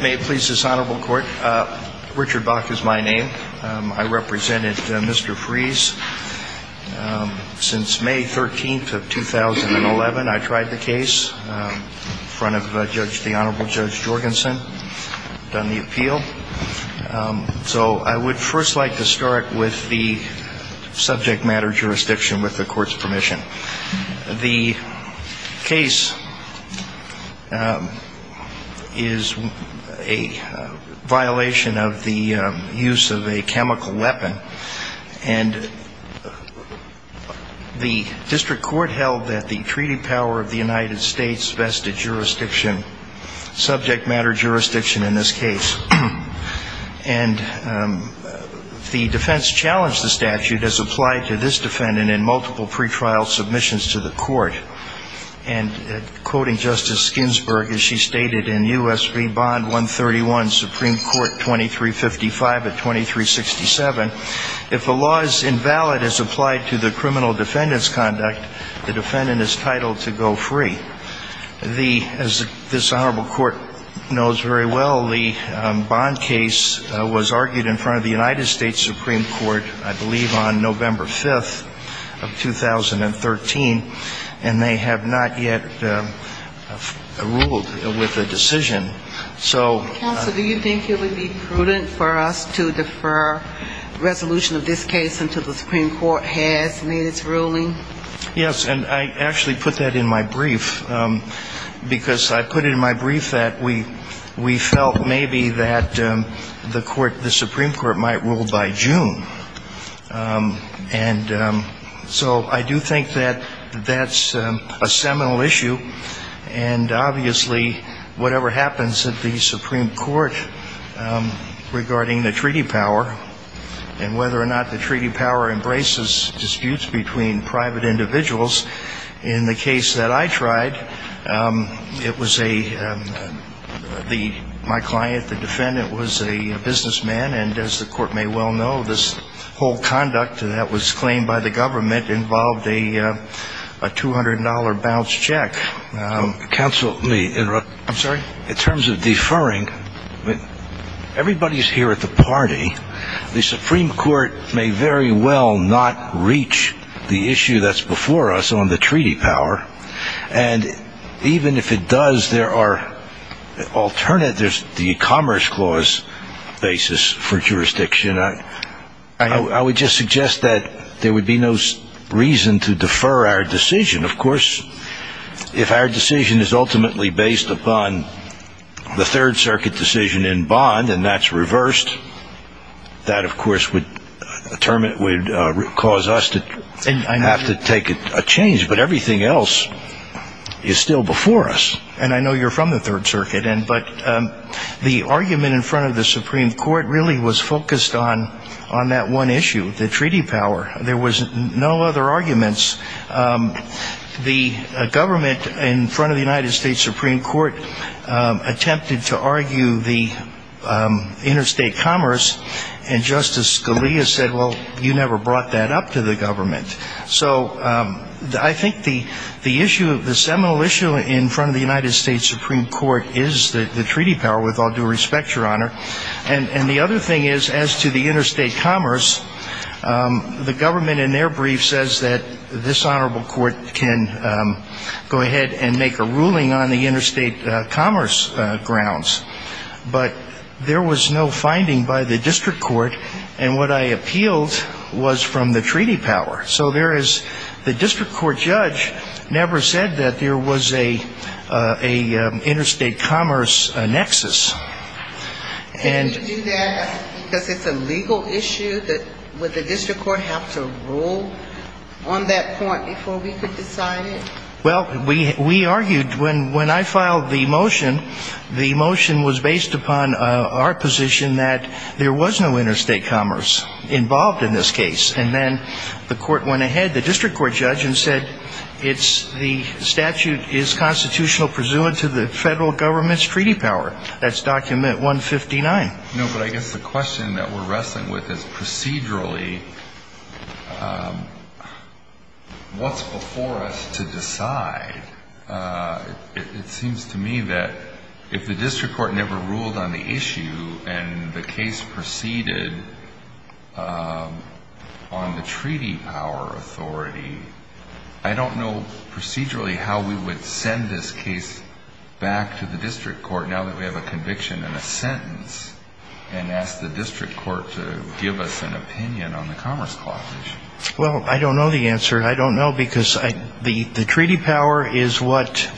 May it please this Honorable Court. Richard Bach is my name. I represented Mr. Fries since May 13th of 2011. I tried the case in front of the Honorable Judge Jorgensen, done the appeal. So I would first like to start with the subject matter jurisdiction with the Court's permission. The case is a violation of the use of a chemical weapon. And the District Court held that the treaty power of the United States vested jurisdiction, subject matter jurisdiction in this case. And the defense challenged the statute as applied to this defendant in multiple pre-trial sessions. If the law is invalid as applied to the criminal defendant's conduct, the defendant is titled to go free. As this Honorable Court knows very well, the bond case was argued in front of the United States Supreme Court, I believe on November 5th of 2013. And they have not yet ruled with a decision. So ‑‑ Counsel, do you think it would be prudent for us to defer resolution of this case until the Supreme Court has made its ruling? Yes. And I actually put that in my brief. Because I put it in my brief that we felt maybe that the Supreme Court might rule by June. And so I do think that that's a seminal issue. And obviously, whatever happens at the Supreme Court regarding the treaty power and whether or not the treaty power embraces disputes between private and public entities, I don't know. In the case that I tried, it was a ‑‑ my client, the defendant, was a businessman. And as the Court may well know, this whole conduct that was claimed by the government involved a $200 bounce check. Counsel, let me interrupt. I'm sorry? In terms of deferring, everybody is here at the party. The Supreme Court may very well not reach the issue that's before us on the treaty power. And even if it does, there are alternatives, the Commerce Clause basis for jurisdiction. I would just suggest that there would be no reason to defer our decision. Of course, if our decision is ultimately based upon the Third Circuit decision in bond and that's reversed, that, of course, would cause us to have to take a change. But everything else is still before us. And I know you're from the Third Circuit. But the argument in front of the Supreme Court really was focused on that one issue, the treaty power. There was no other arguments. The government in front of the United States Supreme Court attempted to argue the interstate commerce. And Justice Scalia said, well, you never brought that up to the government. So I think the issue, the seminal issue in front of the United States Supreme Court is the treaty power, with all due respect, Your Honor. And the other thing is, as to the interstate commerce, the government in their brief says that this honorable court can go ahead and make a ruling on the interstate commerce grounds. But there was no finding by the district court. And what I appealed was from the treaty power. So there is the district court judge never said that there was a interstate commerce nexus. And you do that because it's a legal issue? Would the district court have to rule on that point before we could decide it? Well, we argued when I filed the motion, the motion was based upon our position that there was no interstate commerce involved in this case. And then the court went ahead, the district court judge, and said it's the statute is constitutional pursuant to the federal government's treaty power. That's document 159. No, but I guess the question that we're wrestling with is procedurally, what's before us to decide? It seems to me that if the district court never ruled on the issue and the case proceeded on the treaty power authority, I don't know procedurally how we would send this case back to the district court now that we have a conviction and a sentence. And ask the district court to give us an opinion on the Commerce Clause issue. Well, I don't know the answer. I don't know because the treaty power is what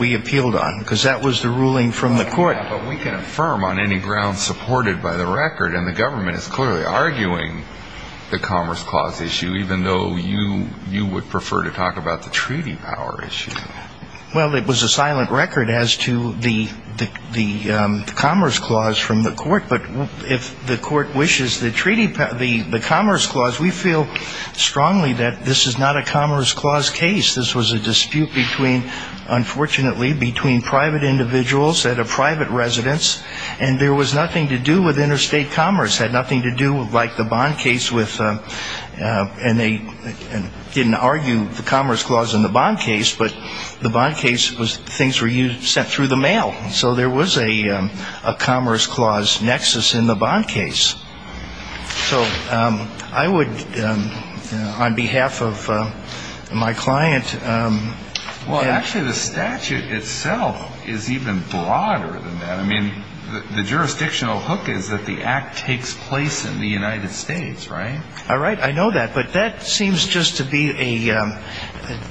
we appealed on. Because that was the ruling from the court. But we can affirm on any ground supported by the record, and the government is clearly arguing the Commerce Clause issue, even though you would prefer to talk about the treaty power issue. Well, it was a silent record as to the Commerce Clause from the court. But if the court wishes the Commerce Clause, we feel strongly that this is not a Commerce Clause case. This was a dispute between, unfortunately, between private individuals at a private residence. And there was nothing to do with interstate commerce. It had nothing to do like the bond case with, and they didn't argue the Commerce Clause in the bond case, but the bond case was things were sent through the mail. So there was a Commerce Clause nexus in the bond case. So I would, on behalf of my client, Well, actually the statute itself is even broader than that. I mean, the jurisdictional hook is that the act takes place in the United States, right? All right. I know that. But that seems just to be a,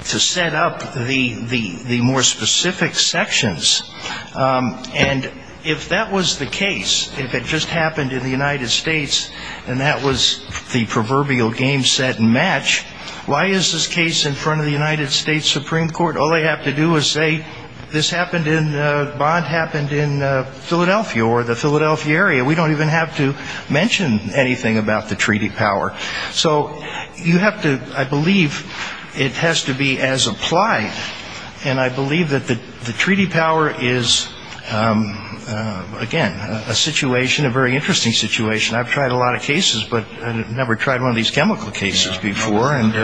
to set up the more specific sections. And if that was the case, if it just happened in the United States, and that was the proverbial game, set, and match, why is this case in front of the United States Supreme Court? All they have to do is say, this happened in, the bond happened in Philadelphia or the Philadelphia area. We don't even have to mention anything about the treaty power. So you have to, I believe, it has to be as applied. And I believe that the treaty power is, again, a situation, a very interesting situation. I've tried a lot of cases, but I've never tried one of these chemical cases before. It's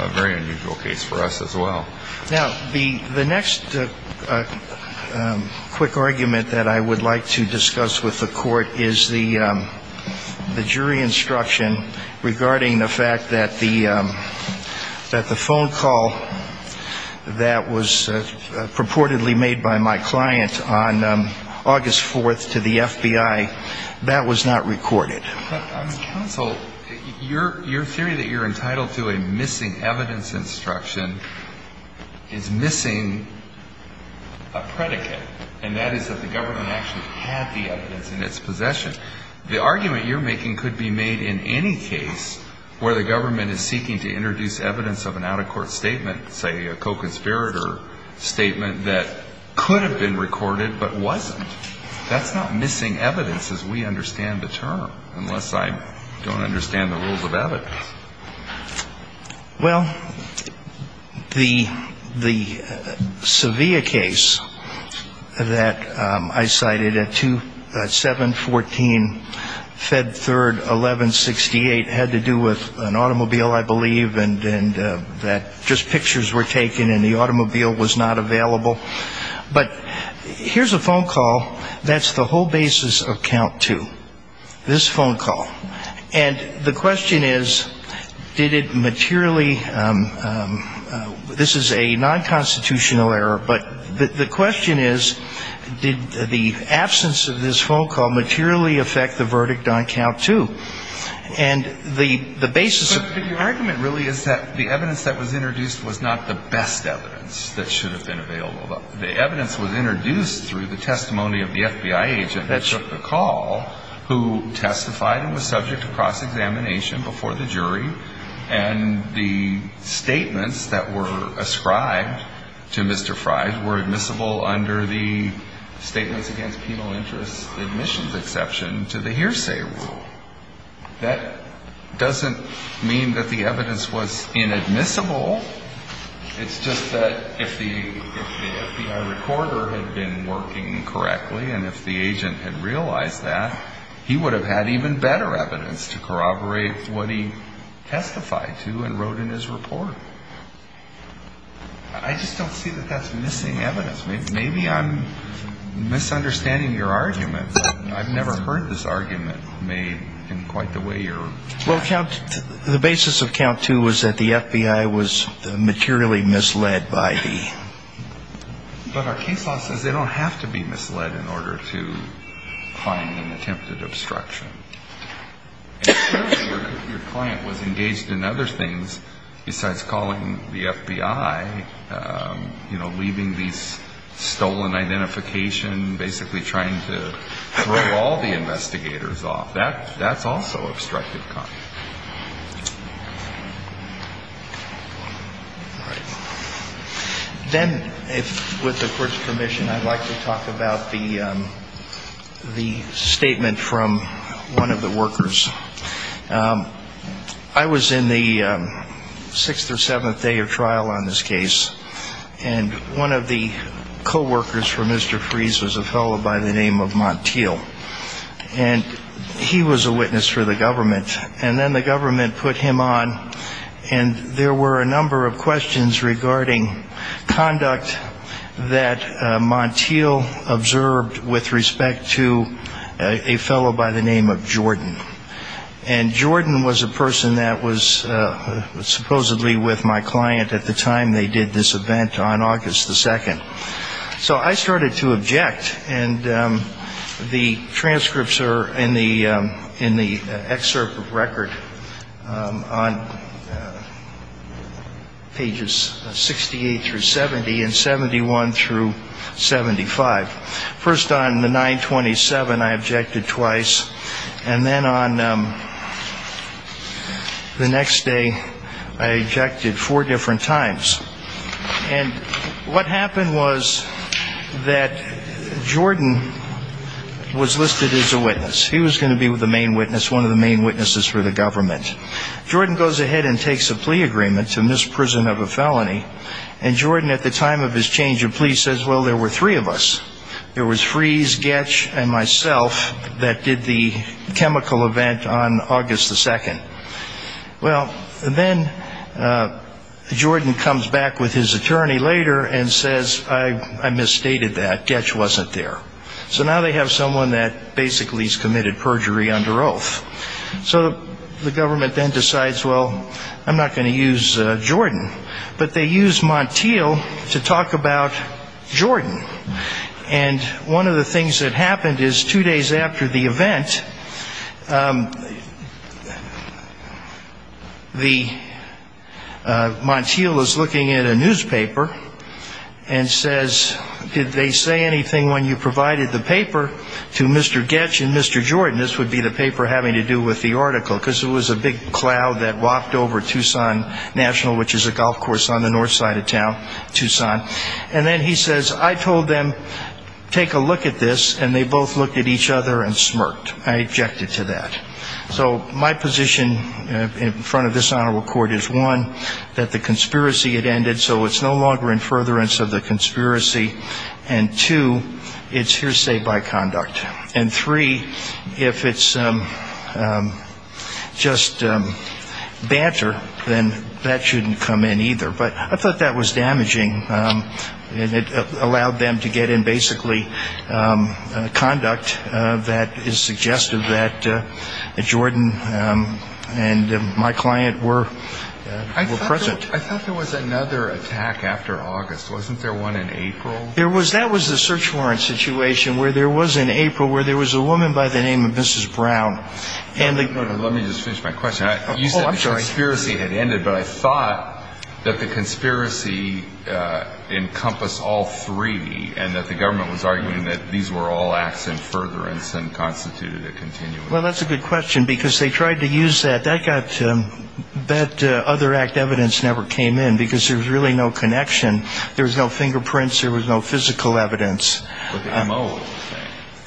a very unusual case for us as well. Now, the next quick argument that I would like to discuss with the Court is the jury instruction regarding the fact that the phone call that was purportedly made by my client on August 4th to the FBI, that was not recorded. But counsel, your theory that you're entitled to a missing evidence instruction is missing a predicate. And that is that the government actually had the evidence in its possession. The argument you're making could be made in any case where the government is seeking to introduce evidence of an out-of-court statement, say a co-conspirator statement, that could have been recorded but wasn't. That's not missing evidence as we understand the term, unless I don't understand the rules of evidence. Well, the Sevilla case that I cited at 714 Fed Third 1168 had to do with an automobile, I believe, and that just pictures were taken and the automobile was not available. But here's a phone call that's the whole basis of count two, this phone call. And the question is, did it materially, this is a non-constitutional error, but the question is, did the absence of this phone call materially affect the verdict on count two? And the basis of the argument really is that the evidence that was introduced was not the best evidence that should have been available. The evidence was introduced through the testimony of the FBI agent that took the call, who testified and was subject to cross-examination before the jury, and the statements that were ascribed to Mr. Frye were admissible under the statements against penal interest admissions exception to the hearsay rule. That doesn't mean that the evidence was inadmissible. It's just that if the FBI recorder had been working correctly and if the agent had realized that, he would have had even better evidence to corroborate what he testified to and wrote in his report. I just don't see that that's missing evidence. Maybe I'm misunderstanding your argument. I've never heard this argument made in quite the way you're trying to. Well, count, the basis of count two was that the FBI was materially misled by the. But our case law says they don't have to be misled in order to find an attempted obstruction. Your client was engaged in other things besides calling the FBI, you know, leaving these stolen identification, basically trying to throw all the investigators off. That's also obstructed count. Then if with the court's permission, I'd like to talk about the statement from one of the workers. I was in the sixth or seventh day of trial on this case. And one of the coworkers for Mr. Freeze was a fellow by the name of Montiel. And he was a witness for the government. And then the government put him on. And there were a number of questions regarding conduct that Montiel observed with respect to a fellow by the name of Jordan. And Jordan was a person that was supposedly with my client at the time they did this event on August the second. So I started to object. And the transcripts are in the in the excerpt of record on pages 68 through 70 and 71 through 75. First on the 927, I objected twice. And then on the next day, I objected four different times. And what happened was that Jordan was listed as a witness. He was going to be with the main witness, one of the main witnesses for the government. Jordan goes ahead and takes a plea agreement to misprison of a felony. And Jordan at the time of his change of plea says, well, there were three of us. There was Freeze, Goetsch, and myself that did the chemical event on August the second. Well, then Jordan comes back with his attorney later and says, I misstated that. Goetsch wasn't there. So now they have someone that basically has committed perjury under oath. So the government then decides, well, I'm not going to use Jordan. But they use Montiel to talk about Jordan. And one of the things that happened is two days after the event, the Montiel is looking at a newspaper and says, did they say anything when you provided the paper to Mr. Goetsch and Mr. Jordan? This would be the paper having to do with the article, because it was a big cloud that walked over Tucson National, which is a golf course on the north side of town, Tucson. And then he says, I told them, take a look at this, and they both looked at each other and smirked. I objected to that. So my position in front of this honorable court is, one, that the conspiracy had ended, so it's no longer in furtherance of the conspiracy, and, two, it's hearsay by conduct. And, three, if it's just banter, then that shouldn't come in either. But I thought that was damaging. And it allowed them to get in basically conduct that is suggestive that Jordan and my client were present. I thought there was another attack after August. Wasn't there one in April? That was the search warrant situation, where there was in April, where there was a woman by the name of Mrs. Brown. Let me just finish my question. Oh, I'm sorry. You said the conspiracy had ended, but I thought that the conspiracy encompassed all three, and that the government was arguing that these were all acts in furtherance and constituted a continuity. Well, that's a good question, because they tried to use that. That other act evidence never came in, because there was really no connection. There was no fingerprints. There was no physical evidence.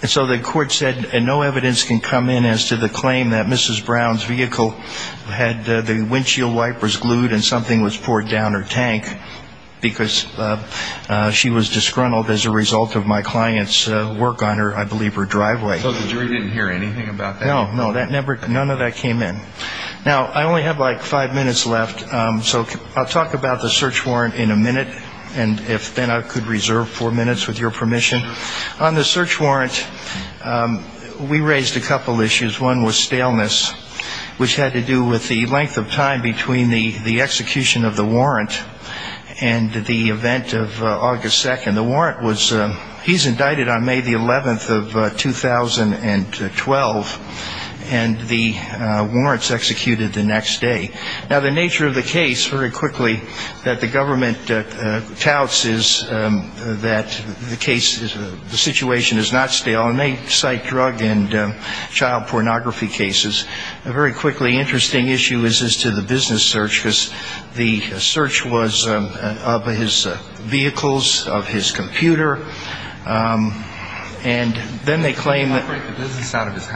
So the court said no evidence can come in as to the claim that Mrs. Brown's vehicle had the windshield wipers glued and something was poured down her tank, because she was disgruntled as a result of my client's work on her, I believe, her driveway. So the jury didn't hear anything about that? No, no, none of that came in. Now, I only have like five minutes left, so I'll talk about the search warrant in a minute. And if then I could reserve four minutes with your permission. On the search warrant, we raised a couple issues. One was staleness, which had to do with the length of time between the execution of the warrant and the event of August 2nd. The warrant was he's indicted on May the 11th of 2012, and the warrant's executed the next day. Now, the nature of the case, very quickly, that the government touts is that the case, the situation is not stale. And they cite drug and child pornography cases. A very quickly interesting issue is as to the business search, because the search was of his vehicles, of his computer. And then they claim that he had the business out of his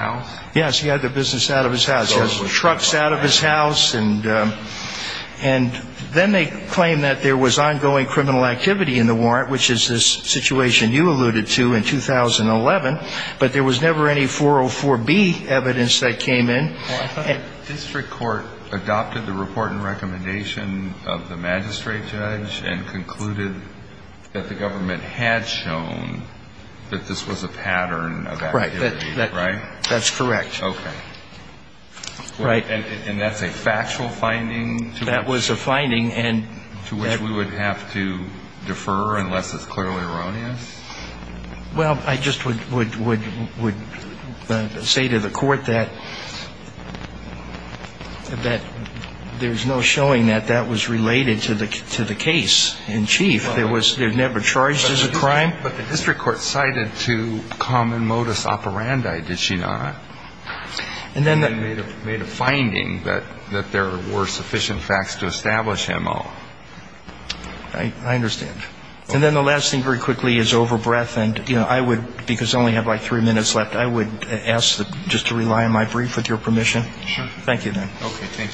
house. He has trucks out of his house. And then they claim that there was ongoing criminal activity in the warrant, which is this situation you alluded to in 2011. But there was never any 404B evidence that came in. I thought the district court adopted the report and recommendation of the magistrate judge and concluded that the government had shown that this was a pattern of activity. Right. That's correct. Okay. Right. And that's a factual finding? That was a finding. To which we would have to defer unless it's clearly erroneous? Well, I just would say to the court that there's no showing that that was related to the case in chief. It was never charged as a crime. But the district court cited to common modus operandi, did she not? And then they made a finding that there were sufficient facts to establish him off. I understand. And then the last thing very quickly is over breath. And I would, because I only have like three minutes left, I would ask just to rely on my brief with your permission. Sure. Thank you, then. Okay.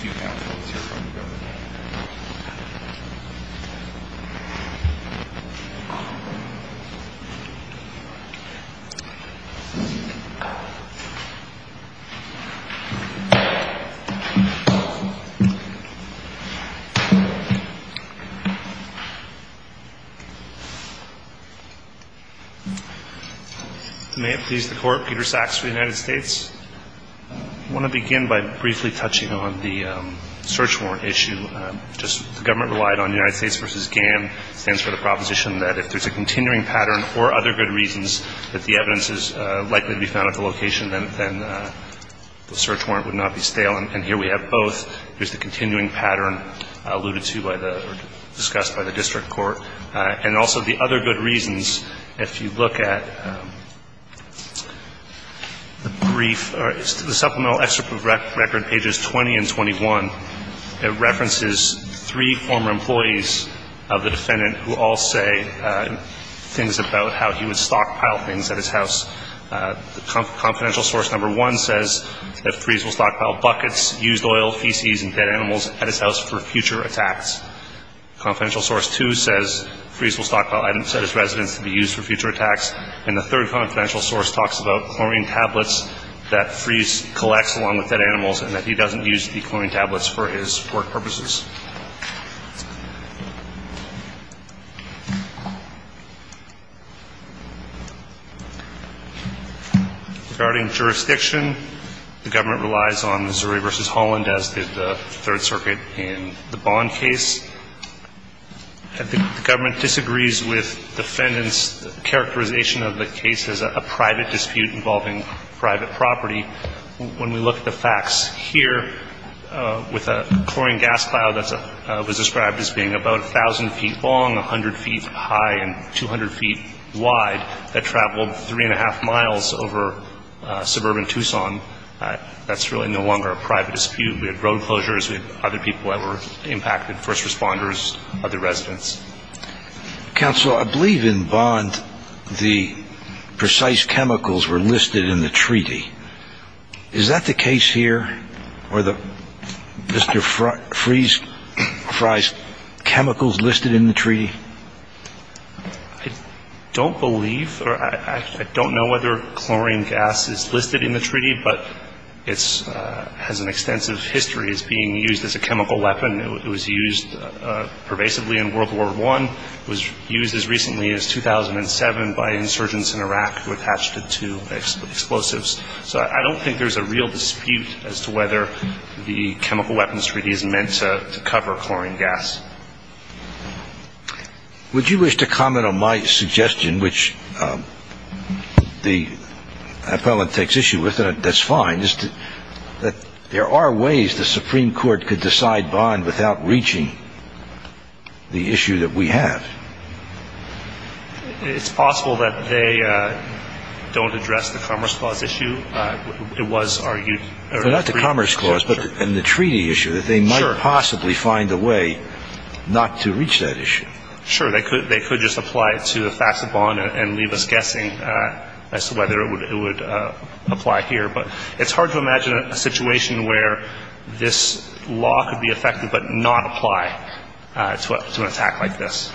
May it please the Court. Peter Saks for the United States. I want to begin by briefly touching on the search warrant issue. Just the government relied on United States v. GAN. It stands for the proposition that if there's a continuing pattern or other good reasons that the evidence is likely to be found at the location, then the search warrant would not be stale. And here we have both. There's the continuing pattern alluded to by the or discussed by the district court. And also the other good reasons, if you look at the brief or the supplemental record, pages 20 and 21, it references three former employees of the defendant who all say things about how he would stockpile things at his house. Confidential source number one says that Freeze will stockpile buckets, used oil, feces, and dead animals at his house for future attacks. Confidential source two says Freeze will stockpile items at his residence to be used for future attacks. And the third confidential source talks about chlorine tablets that Freeze collects along with dead animals and that he doesn't use the chlorine tablets for his work purposes. Regarding jurisdiction, the government relies on Missouri v. Holland, as did the Third Circuit in the Bond case. The government disagrees with defendants' characterization of the case as a private dispute involving private property. When we look at the facts here, with a chlorine gas pile that was described as being about 1,000 feet long, 100 feet high, and 200 feet wide, that traveled three and a half miles over suburban Tucson, that's really no longer a private dispute. We had road closures. We had other people that were impacted, first responders, other residents. Counsel, I believe in Bond the precise chemicals were listed in the treaty. Is that the case here, or the Mr. Freeze Fry's chemicals listed in the treaty? I don't believe, or I don't know whether chlorine gas is listed in the treaty, but it has an extensive history as being used as a chemical weapon. It was used pervasively in World War I. It was used as recently as 2007 by insurgents in Iraq who attached it to explosives. So I don't think there's a real dispute as to whether the Chemical Weapons Treaty is meant to cover chlorine gas. Would you wish to comment on my suggestion, which the appellant takes issue with, and are there ways the Supreme Court could decide Bond without reaching the issue that we have? It's possible that they don't address the Commerce Clause issue. It was argued. Not the Commerce Clause, but in the treaty issue, that they might possibly find a way not to reach that issue. Sure, they could just apply it to the facts of Bond and leave us guessing as to whether it would apply here. But it's hard to imagine a situation where this law could be effective but not apply to an attack like this.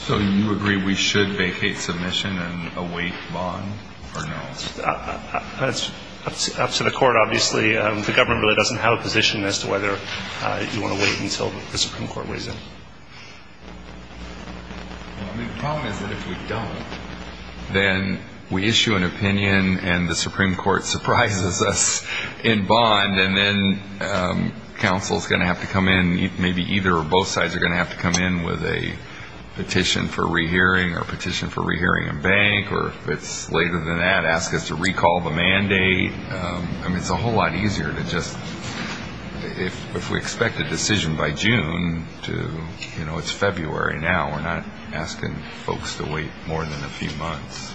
So you agree we should vacate submission and await Bond or no? That's up to the court, obviously. The government really doesn't have a position as to whether you want to wait until the Supreme Court weighs in. The problem is that if we don't, then we issue an opinion and the Supreme Court surprises us in Bond and then counsel is going to have to come in, maybe either or both sides are going to have to come in with a petition for rehearing or a petition for rehearing in Bank or if it's later than that, ask us to recall the mandate. It's a whole lot easier to just, if we expect a decision by June to, you know, it's February now, we're not asking folks to wait more than a few months.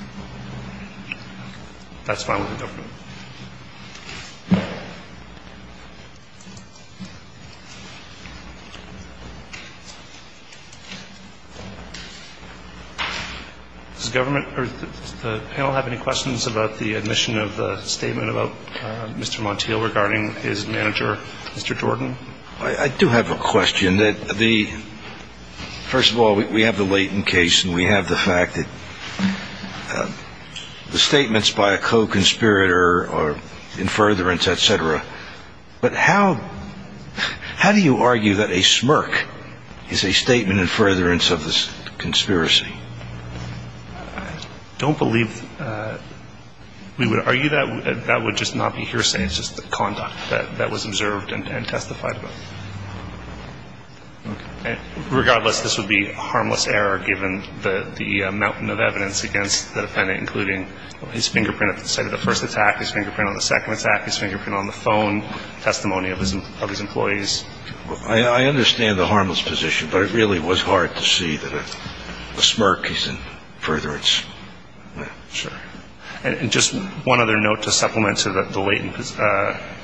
Does the panel have any questions about the admission of the statement about Mr. Montiel regarding his manager, Mr. Jordan? I do have a question. First of all, we have the Leighton case and we have the fact that the statements by a smirk are in furtherance, et cetera, but how do you argue that a smirk is a statement in furtherance of this conspiracy? I don't believe we would argue that. That would just not be hearsay. It's just the conduct that was observed and testified about. Regardless, this would be a harmless error given the mountain of evidence against the manager. I understand the harmless position, but it really was hard to see that a smirk is in furtherance. And just one other note to supplement to the Leighton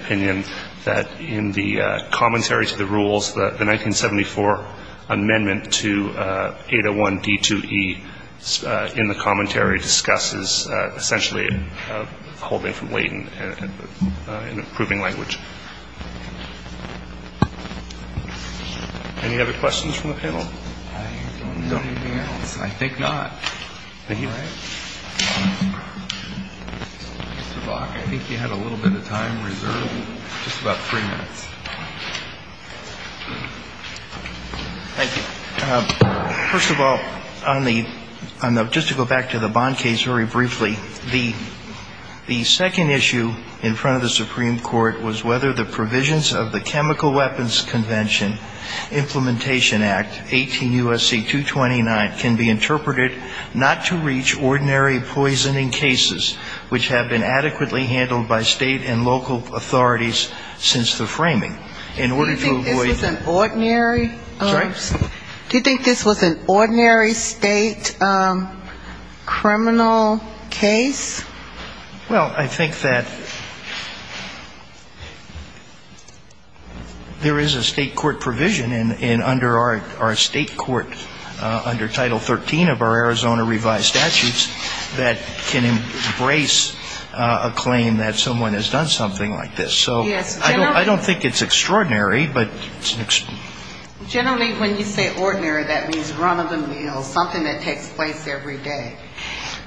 opinion, that in the commentary to the rules, the 1974 amendment to 801D2E in the commentary discusses essentially the same thing, that the smirk is a statement in furtherance of the Leighton case. And I think that's a good way to hold it from Leighton in a proving language. Any other questions from the panel? I don't know anything else. I think not. Mr. Bach, I think you had a little bit of time reserved, just about three minutes. Thank you. First of all, just to go back to the Bond case very briefly, the second issue in front of the Supreme Court was whether the provisions of the Chemical Weapons Convention Implementation Act, 18 U.S.C. 229, can be interpreted not to reach ordinary poisoning cases, which have been adequately handled by state and local authorities since the framing. Do you think this was an ordinary state criminal case? Well, I think that there is a state court provision in under our state court under Title 13 of our Arizona revised statutes that can embrace a claim that someone has done something like this. I don't think it's extraordinary. Generally when you say ordinary, that means run of the mill, something that takes place every day.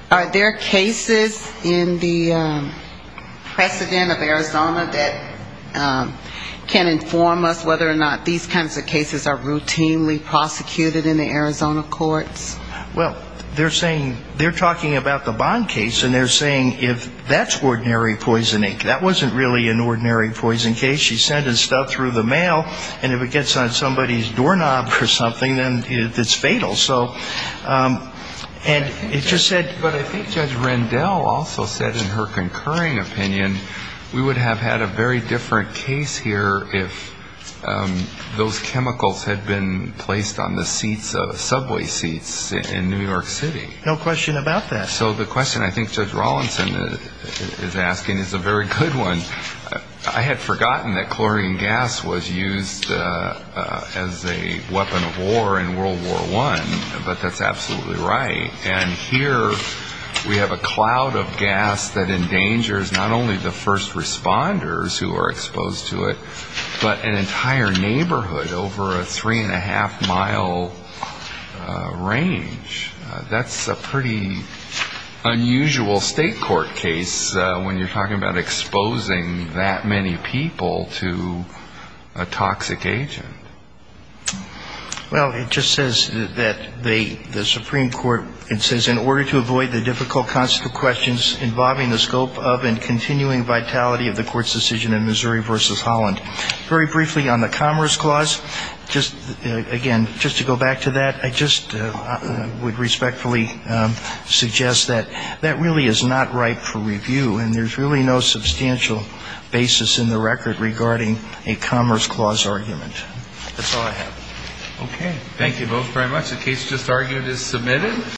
Are there cases in the precedent of Arizona that can inform us whether or not these kinds of cases are routinely prosecuted in the Arizona courts? Well, they're saying, they're talking about the Bond case, and they're saying if that's ordinary poisoning. That wasn't really an ordinary poisoning case. She sent his stuff through the mail, and if it gets on somebody's doorknob or something, then it's fatal. So, and it just said to me. But I think Judge Rendell also said in her concurring opinion, we would have had a very different case here if those were in New York City. So the question I think Judge Rawlinson is asking is a very good one. I had forgotten that chlorine gas was used as a weapon of war in World War I, but that's absolutely right. And here we have a cloud of gas that endangers not only the first responders who are exposed to it, but an entire nation. That's a pretty unusual state court case when you're talking about exposing that many people to a toxic agent. Well, it just says that the Supreme Court, it says, in order to avoid the difficult concept of questions involving the scope of and continuing vitality of the court's decision in Missouri v. Holland. Very briefly on the Commerce Clause, just, again, just to go back to that, I just want to point out that I would respectfully suggest that that really is not right for review. And there's really no substantial basis in the record regarding a Commerce Clause argument. That's all I have.